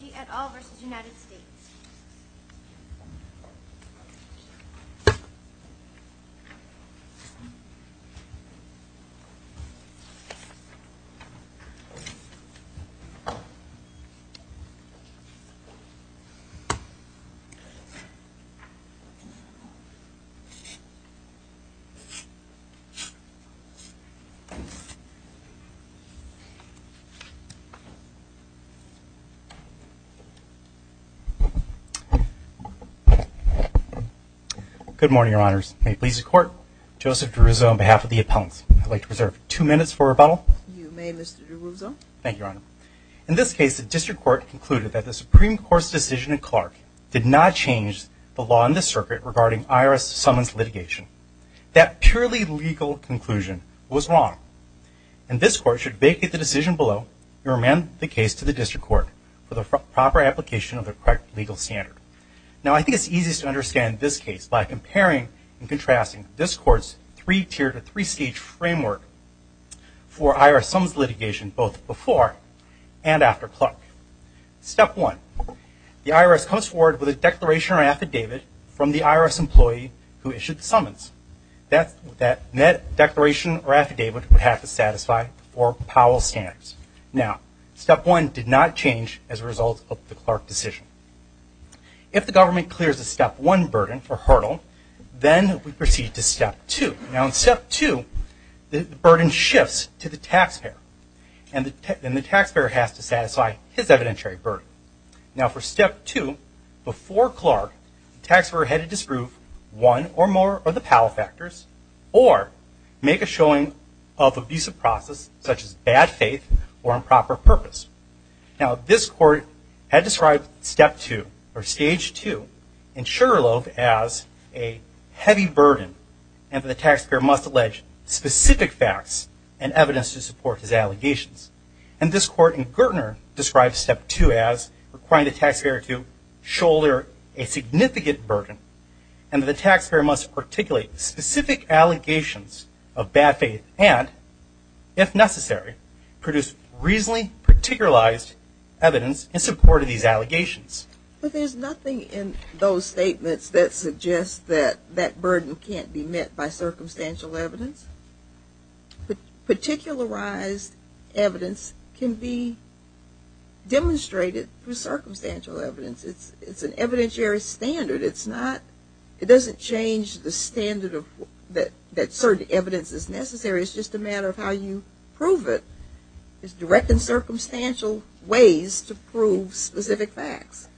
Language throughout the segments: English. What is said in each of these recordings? Angie et al. v. United States Good morning, Your Honors. May it please the Court, Joseph DeRuzo, on behalf of the appellants, I'd like to reserve two minutes for rebuttal. You may, Mr. DeRuzo. Thank you, Your Honor. In this case, the District Court concluded that the Supreme Court's decision in Clark did not change the law in the circuit regarding IRS summons litigation. That purely legal conclusion was wrong, and this Court should vacate the decision below and remand the case to the District Court for the proper application of the correct legal standard. Now, I think it's easiest to understand this case by comparing and contrasting this Court's three-tiered or three-stage framework for IRS summons litigation, both before and after Clark. Step one, the IRS comes forward with a declaration or affidavit from the IRS employee who issued the summons. That declaration or affidavit would have to satisfy four Powell standards. Now, step one did not change as a result of the Clark decision. If the government clears the step one burden for Hurdle, then we proceed to step two. Now, in step two, the burden shifts to the taxpayer, and the taxpayer has to satisfy his evidentiary burden. Now, for step two, before Clark, the or make a showing of abusive process, such as bad faith or improper purpose. Now, this Court had described step two, or stage two, in Sugarloaf as a heavy burden, and the taxpayer must allege specific facts and evidence to support his allegations. And this Court in Gertner describes step two as requiring the taxpayer to shoulder a significant burden, and the taxpayer must articulate specific allegations of bad faith and, if necessary, produce reasonably particularized evidence in support of these allegations. But there's nothing in those statements that suggests that that burden can't be met by circumstantial evidence. Particularized evidence can be demonstrated through circumstantial evidence. It's an evidentiary standard. It doesn't change the standard that certain evidence is necessary. It's just a matter of how you prove it. It's direct and circumstantial ways to prove specific facts.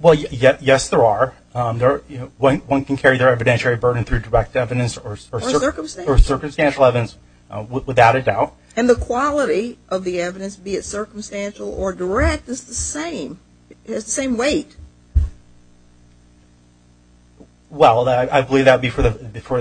Well, yes, there are. One can carry their evidentiary burden through direct evidence or circumstantial evidence without a doubt. And the quality of the evidence, be it circumstantial or direct, is the same. It has the same weight. Well, I believe that would be for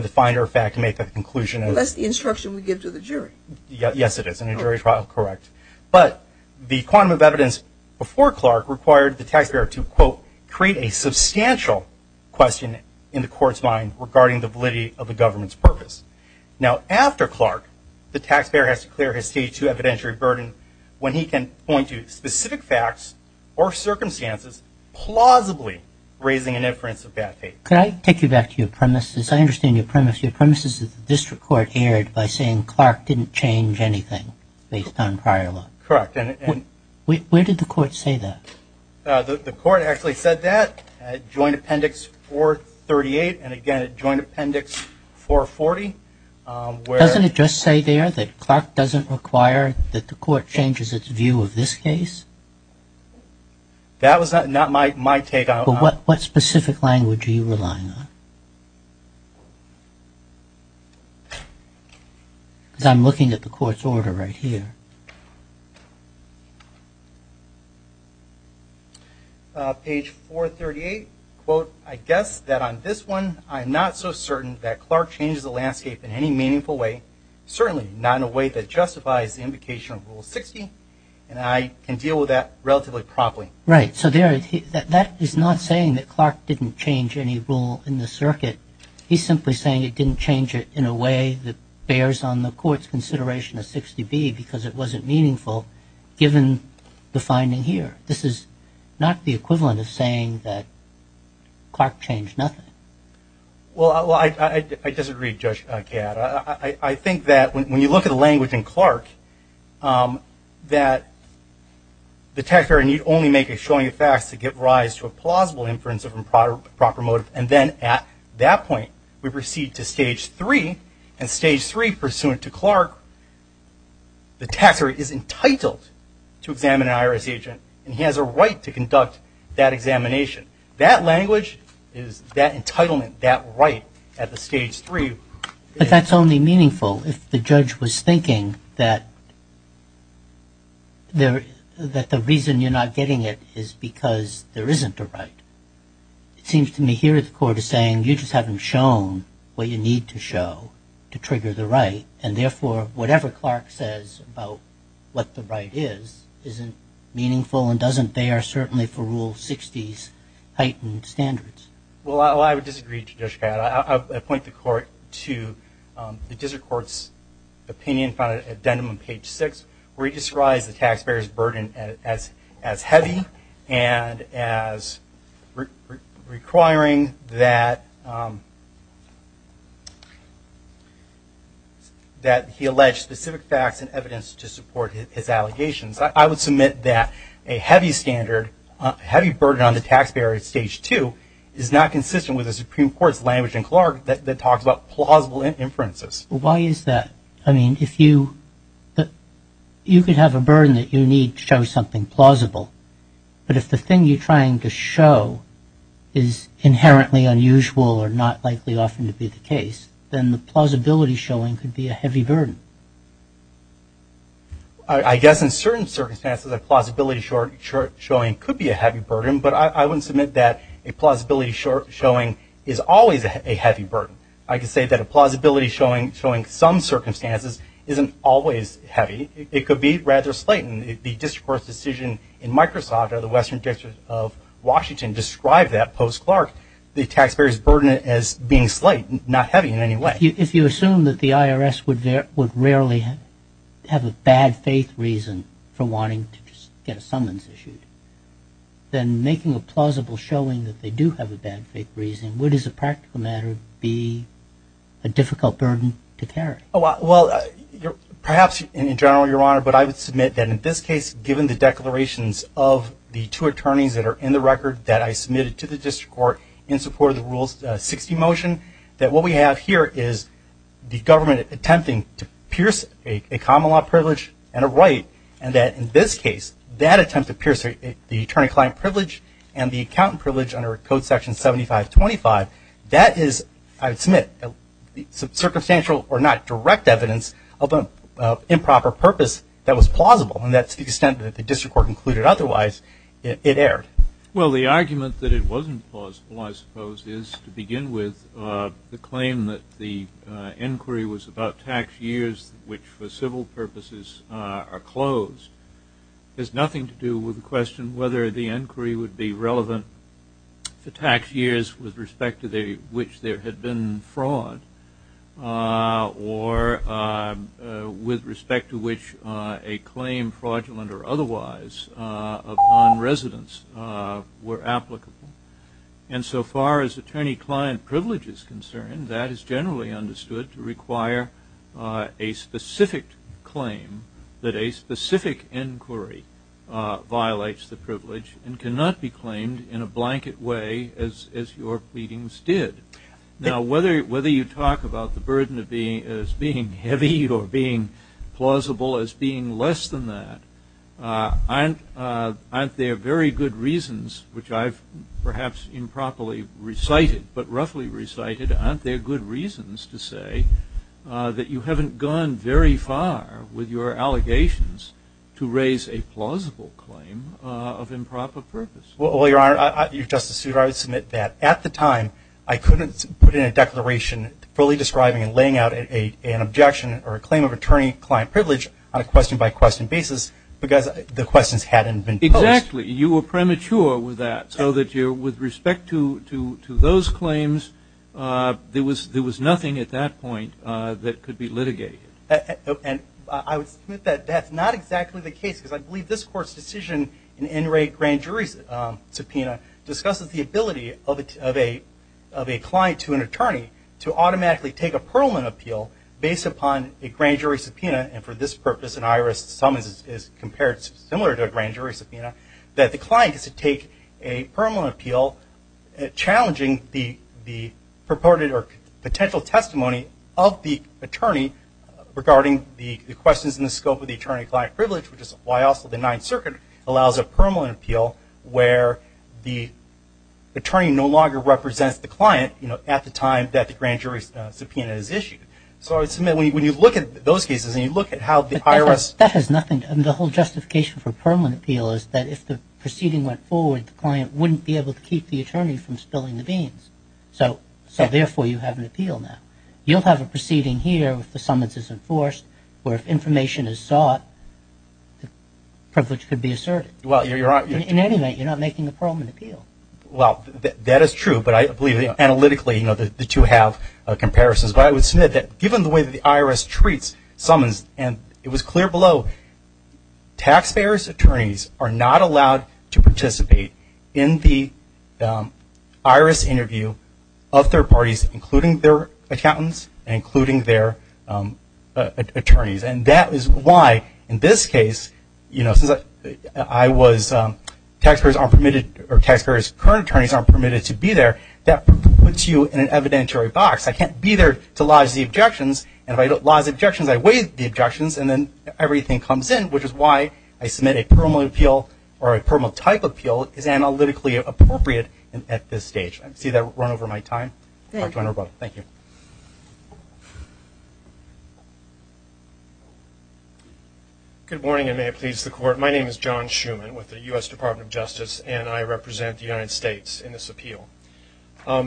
the finder of fact to make that conclusion. Well, that's the instruction we give to the jury. Yes, it is. In a jury trial, correct. But the quantum of evidence before Clark required the taxpayer to, quote, create a substantial question in the Court's mind regarding the evidentiary burden when he can point to specific facts or circumstances plausibly raising an inference of bad faith. Could I take you back to your premises? I understand your premise. Your premise is that the District Court erred by saying Clark didn't change anything based on prior law. Correct. Where did the Court say that? The Court actually said that at Joint Appendix 438 and again at Joint Appendix 440. Doesn't it just say there that Clark doesn't require that the Court changes its view of this case? That was not my take on it. But what specific language are you relying on? Because I'm looking at the Court's order right here. Page 438, quote, I guess that on this one I'm not so certain that Clark changes the landscape in any meaningful way, certainly not in a way that justifies the invocation of Rule 60, and I can deal with that relatively promptly. Right. So that is not saying that Clark didn't change any rule in the circuit. He's simply saying it didn't change it in a way that bears on the Court's consideration of 60B because it wasn't meaningful given the finding here. This is not the equivalent of saying that Clark changed nothing. Well, I disagree, Judge Gadd. I think that when you look at the language in Clark that the taxpayer need only make a showing of facts to give rise to a plausible inference of improper motive, and then at that point we proceed to Stage 3, and Stage 3 pursuant to Clark, the taxpayer is entitled to examine an IRS agent, and he has a right to conduct that examination. That language is that entitlement, that right at the Stage 3. But that's only meaningful if the judge was thinking that the reason you're not getting it is because there isn't a right. It seems to me here the Court is saying you just haven't shown what you need to show to trigger the right, and therefore whatever Clark says about what the right is isn't meaningful and doesn't bear certainly for Rule 60's heightened standards. Well, I would disagree, Judge Gadd. I point the Court to the District Court's opinion found at addendum on page 6 where he describes the taxpayer's burden as heavy and as requiring that he allege specific facts and evidence to support his allegations. I would submit that a heavy burden on the taxpayer at Stage 2 is not consistent with the Supreme Court's language in Clark that talks about plausible inferences. Well, why is that? I mean, if you could have a burden that you need to show something plausible, but if the thing you're trying to show is inherently unusual or not likely often to be the case, then the plausibility showing could be a heavy burden. I guess in certain circumstances a plausibility showing could be a heavy burden, but I wouldn't submit that a plausibility showing is always a heavy burden. I could say that a plausibility showing some circumstances isn't always heavy. It could be rather slight, and the District Court's decision in Microsoft or the Western District of Washington described that post-Clark, the taxpayer's burden as being slight, not heavy in any way. If you assume that the IRS would rarely have a bad faith reason for wanting to get a summons issued, then making a plausible showing that they do have a bad faith reason would as a practical matter be a difficult burden to carry. Well, perhaps in general, Your Honor, but I would submit that in this case given the declarations of the two attorneys that are in the record that I submitted to the District Court in support of the Rule 60 motion, that what we have here is the government attempting to pierce a common law privilege and a right, and that in this case that attempt to pierce the attorney-client privilege and the accountant privilege under Code Section 7525, that is, I would submit, circumstantial or not direct evidence of an improper purpose that was plausible, and that's the extent that the District Court concluded otherwise it erred. Well, the argument that it wasn't plausible, I suppose, is to begin with the claim that the inquiry was about tax years which for civil purposes are closed. It has nothing to do with the question whether the inquiry would be relevant for tax years with respect to which there had been fraud or with respect to which a claim fraudulent or otherwise of nonresidence were applicable. And so far as attorney-client privilege is concerned, that is generally understood to require a specific claim that a specific inquiry violates the privilege and cannot be claimed in a blanket way as your pleadings did. Now, whether you talk about the burden as being heavy or being plausible as being less than that, aren't there very good reasons, which I've perhaps improperly recited but roughly recited, aren't there good reasons to say that you haven't gone very far with your allegations to raise a plausible claim of improper purpose? Well, Your Honor, Justice Souter, I would submit that at the time I couldn't put in a declaration fully describing and laying out an objection or a claim of attorney-client privilege on a question-by-question basis because the questions hadn't been posed. Exactly. You were premature with that so that with respect to those claims, there was nothing at that point that could be litigated. And I would submit that that's not exactly the case because I believe this Court's decision in In Re Grand Jury's subpoena discusses the ability of a client to an attorney to automatically take a Perelman appeal based upon a grand jury subpoena, and for this purpose an IRS sum is compared similar to a grand jury subpoena, that the client gets to take a Perelman appeal challenging the purported or potential testimony of the attorney regarding the questions in the scope of the attorney-client privilege, which is why also the Ninth Circuit allows a Perelman appeal where the attorney no longer represents the client at the time that the grand jury subpoena is issued. So I would submit when you look at those cases and you look at how the IRS – But that has nothing – and the whole justification for Perelman appeal is that if the proceeding went forward, the client wouldn't be able to keep the attorney from spilling the beans. So therefore you have an appeal now. You'll have a proceeding here if the summons is enforced where if information is sought, the privilege could be asserted. Well, you're – In any event, you're not making a Perelman appeal. Well, that is true, but I believe analytically, you know, the two have comparisons. But I would submit that given the way that the IRS treats summons, and it was clear below, taxpayers' attorneys are not allowed to participate in the IRS interview of third parties, including their accountants and including their attorneys. And that is why in this case, you know, since I was – taxpayers aren't permitted – or taxpayers' current attorneys aren't permitted to be there, that puts you in an evidentiary box. I can't be there to lodge the objections, and if I lodge objections, I waive the objections, and then everything comes in, which is why I submit a Perelman appeal or a Perelman-type appeal is analytically appropriate at this stage. I see that I've run over my time. Thank you. Thank you. Good morning, and may it please the Court. My name is John Schuman with the U.S. Department of Justice, and I represent the United States in this appeal. Now,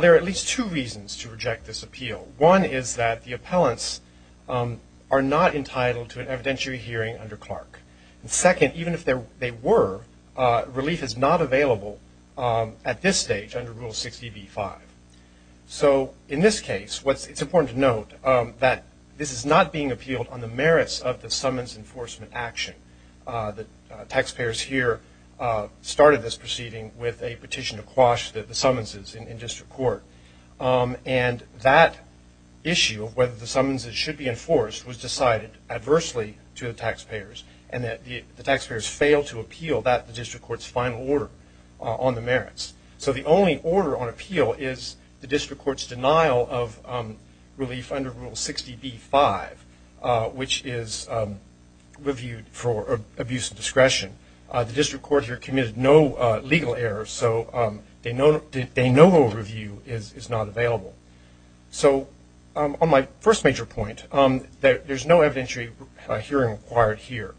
there are at least two reasons to reject this appeal. One is that the appellants are not entitled to an evidentiary hearing under Clark. And second, even if they were, relief is not available at this stage under Rule 60b-5. So in this case, it's important to note that this is not being appealed on the merits of the summons enforcement action. The taxpayers here started this proceeding with a petition to quash the summonses in district court, and that issue of whether the summonses should be enforced was decided adversely to the taxpayers and that the taxpayers failed to appeal that district court's final order on the merits. So the only order on appeal is the district court's denial of relief under Rule 60b-5, which is reviewed for abuse of discretion. The district court here committed no legal errors, so they know no review is not available. So on my first major point, there's no evidentiary hearing required here.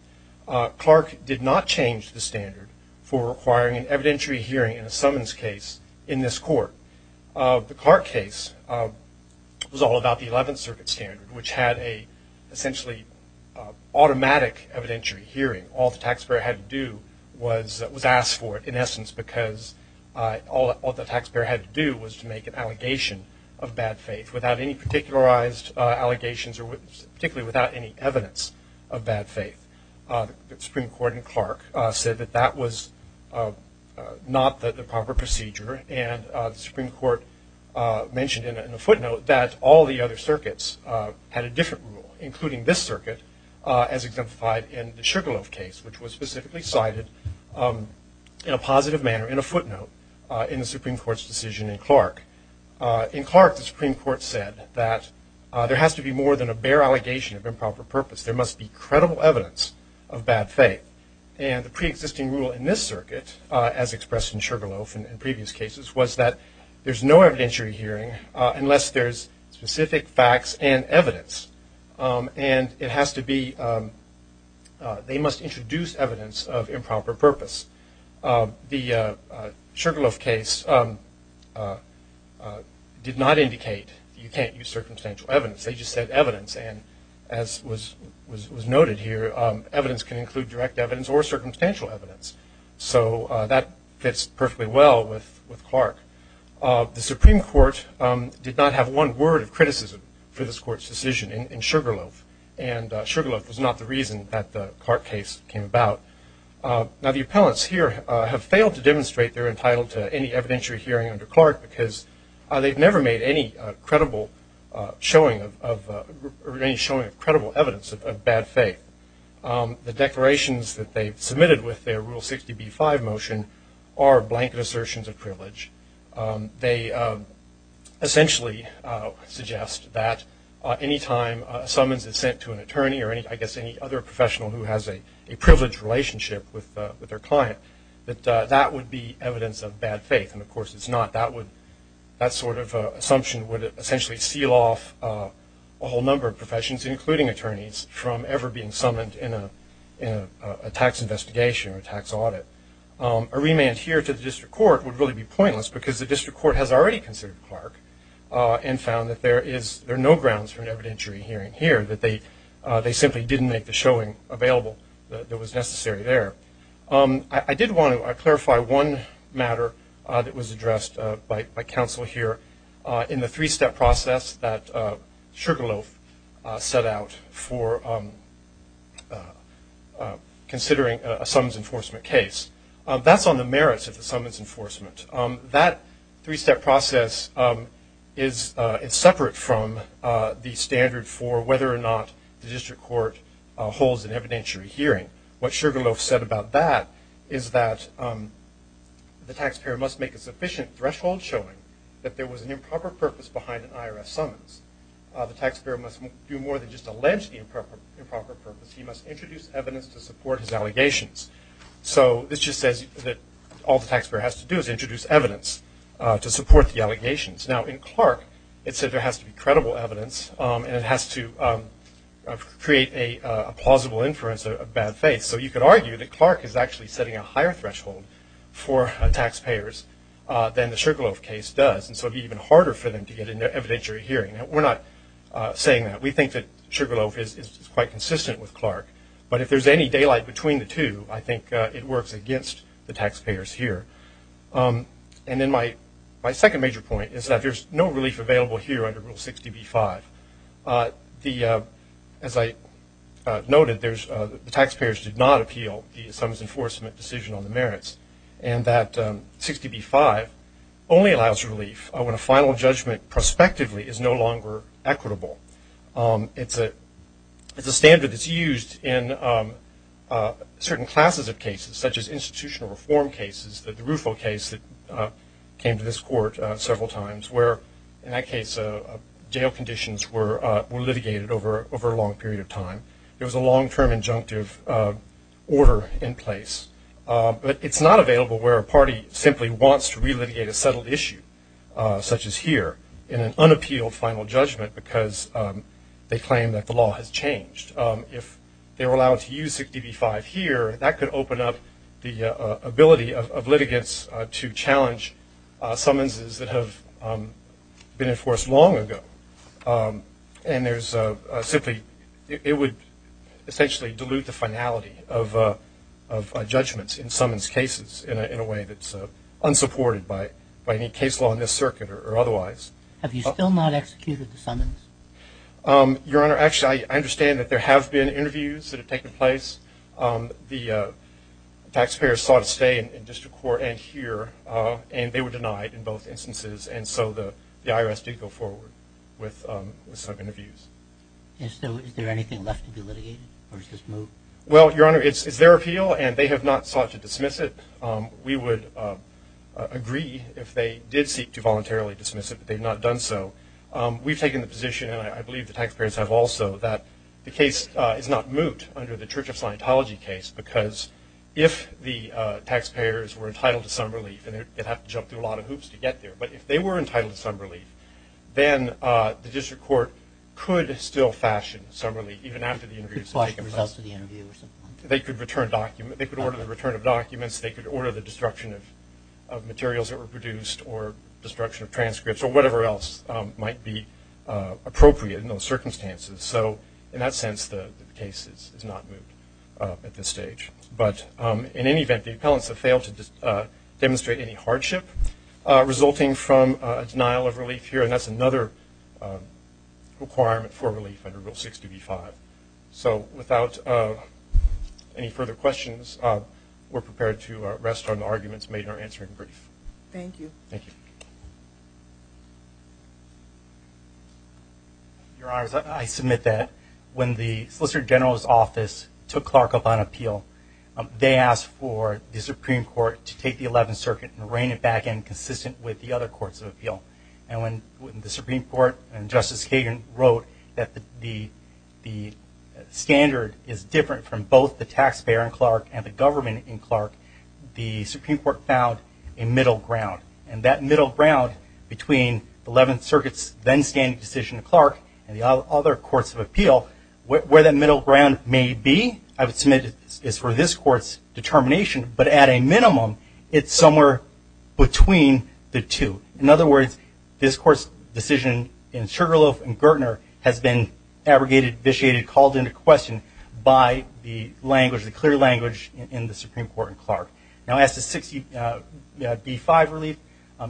Clark did not change the standard for requiring an evidentiary hearing in a summons case in this court. The Clark case was all about the Eleventh Circuit standard, which had an essentially automatic evidentiary hearing. All the taxpayer had to do was ask for it, in essence, because all the taxpayer had to do was to make an allegation of bad faith without any particularized allegations or particularly without any evidence of bad faith. The Supreme Court in Clark said that that was not the proper procedure, and the Supreme Court mentioned in a footnote that all the other circuits had a different rule, including this circuit as exemplified in the Sugarloaf case, which was specifically cited in a positive manner in a footnote in the Supreme Court's decision in Clark. In Clark, the Supreme Court said that there has to be more than a bare allegation of improper purpose. There must be credible evidence of bad faith. And the preexisting rule in this circuit, as expressed in Sugarloaf in previous cases, was that there's no evidentiary hearing unless there's specific facts and evidence. And it has to be – they must introduce evidence of improper purpose. The Sugarloaf case did not indicate you can't use circumstantial evidence. They just said evidence. And as was noted here, evidence can include direct evidence or circumstantial evidence. So that fits perfectly well with Clark. The Supreme Court did not have one word of criticism for this Court's decision in Sugarloaf, and Sugarloaf was not the reason that the Clark case came about. Now, the appellants here have failed to demonstrate they're entitled to any evidentiary hearing under Clark because they've never made any showing of credible evidence of bad faith. The declarations that they've submitted with their Rule 60b-5 motion are blanket assertions of privilege. They essentially suggest that any time a summons is sent to an attorney or, I guess, any other professional who has a privileged relationship with their client, that that would be evidence of bad faith. And, of course, it's not. That sort of assumption would essentially seal off a whole number of professions, including attorneys, from ever being summoned in a tax investigation or tax audit. A remand here to the district court would really be pointless because the district court has already considered Clark and found that there are no grounds for an evidentiary hearing here, that they simply didn't make the showing available that was necessary there. I did want to clarify one matter that was addressed by counsel here in the three-step process that Sugarloaf set out for considering a summons enforcement case. That's on the merits of the summons enforcement. That three-step process is separate from the standard for whether or not the district court holds an evidentiary hearing. What Sugarloaf said about that is that the taxpayer must make a sufficient threshold showing that there was an improper purpose behind an IRS summons. The taxpayer must do more than just allege the improper purpose. He must introduce evidence to support his allegations. So this just says that all the taxpayer has to do is introduce evidence to support the allegations. Now, in Clark, it said there has to be credible evidence and it has to create a plausible inference of bad faith. So you could argue that Clark is actually setting a higher threshold for taxpayers than the Sugarloaf case does, and so it would be even harder for them to get an evidentiary hearing. Now, we're not saying that. We think that Sugarloaf is quite consistent with Clark. But if there's any daylight between the two, I think it works against the taxpayers here. And then my second major point is that there's no relief available here under Rule 60b-5. As I noted, the taxpayers did not appeal the summons enforcement decision on the merits, and that 60b-5 only allows relief when a final judgment prospectively is no longer equitable. It's a standard that's used in certain classes of cases, such as institutional reform cases, the Rufo case that came to this court several times, where in that case jail conditions were litigated over a long period of time. There was a long-term injunctive order in place. But it's not available where a party simply wants to relitigate a settled issue, such as here, in an unappealed final judgment because they claim that the law has changed. If they were allowed to use 60b-5 here, that could open up the ability of litigants to challenge summonses that have been enforced long ago. And there's simply – it would essentially dilute the finality of judgments in summons cases in a way that's unsupported by any case law in this circuit or otherwise. Have you still not executed the summons? Your Honor, actually, I understand that there have been interviews that have taken place. The taxpayers sought to stay in district court and here, and they were denied in both instances, and so the IRS did go forward with some interviews. And so is there anything left to be litigated, or is this moved? Well, Your Honor, it's their appeal, and they have not sought to dismiss it. We would agree if they did seek to voluntarily dismiss it, but they've not done so. We've taken the position, and I believe the taxpayers have also, that the case is not moved under the Church of Scientology case because if the taxpayers were entitled to some relief, and they'd have to jump through a lot of hoops to get there, but if they were entitled to some relief, then the district court could still fashion some relief, even after the interviews have taken place. They could order the return of documents. They could order the destruction of materials that were produced or destruction of transcripts or whatever else might be appropriate in those circumstances. So in that sense, the case is not moved at this stage. But in any event, the appellants have failed to demonstrate any hardship resulting from a denial of relief here, and that's another requirement for relief under Rule 6db-5. So without any further questions, we're prepared to rest on the arguments made in our answering brief. Thank you. Thank you. Your Honors, I submit that when the Solicitor General's office took Clark up on appeal, they asked for the Supreme Court to take the Eleventh Circuit and reign it back in consistent with the other courts of appeal. And when the Supreme Court and Justice Sagan wrote that the standard is different from both the taxpayer in Clark and the government in Clark, the Supreme Court found a middle ground. And that middle ground between the Eleventh Circuit's then-standing decision in Clark and the other courts of appeal, where that middle ground may be, I would submit is for this Court's determination. But at a minimum, it's somewhere between the two. In other words, this Court's decision in Sugarloaf and Gertner has been abrogated, vitiated, called into question by the language, the clear language in the Supreme Court in Clark. Now as to 6db-5 relief,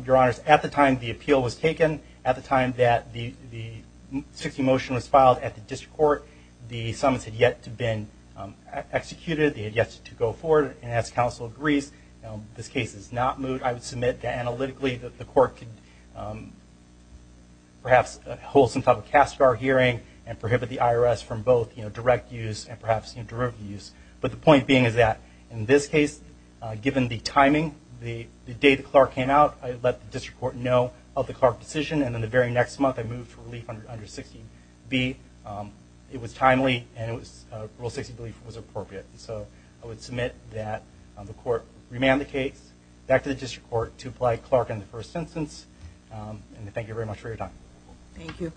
Your Honors, at the time the appeal was taken, at the time that the 6d motion was filed at the District Court, the summons had yet to have been executed. They had yet to go forward. And as counsel agrees, this case is not moved. I would submit that analytically the Court could perhaps hold some type of CASCAR hearing and prohibit the IRS from both direct use and perhaps derivative use. But the point being is that in this case, given the timing, the day that Clark came out, I let the District Court know of the Clark decision. And then the very next month, I moved relief under 6db. It was timely, and Rule 6, I believe, was appropriate. So I would submit that the Court remand the case back to the District Court to apply Clark in the first instance. And thank you very much for your time. Thank you.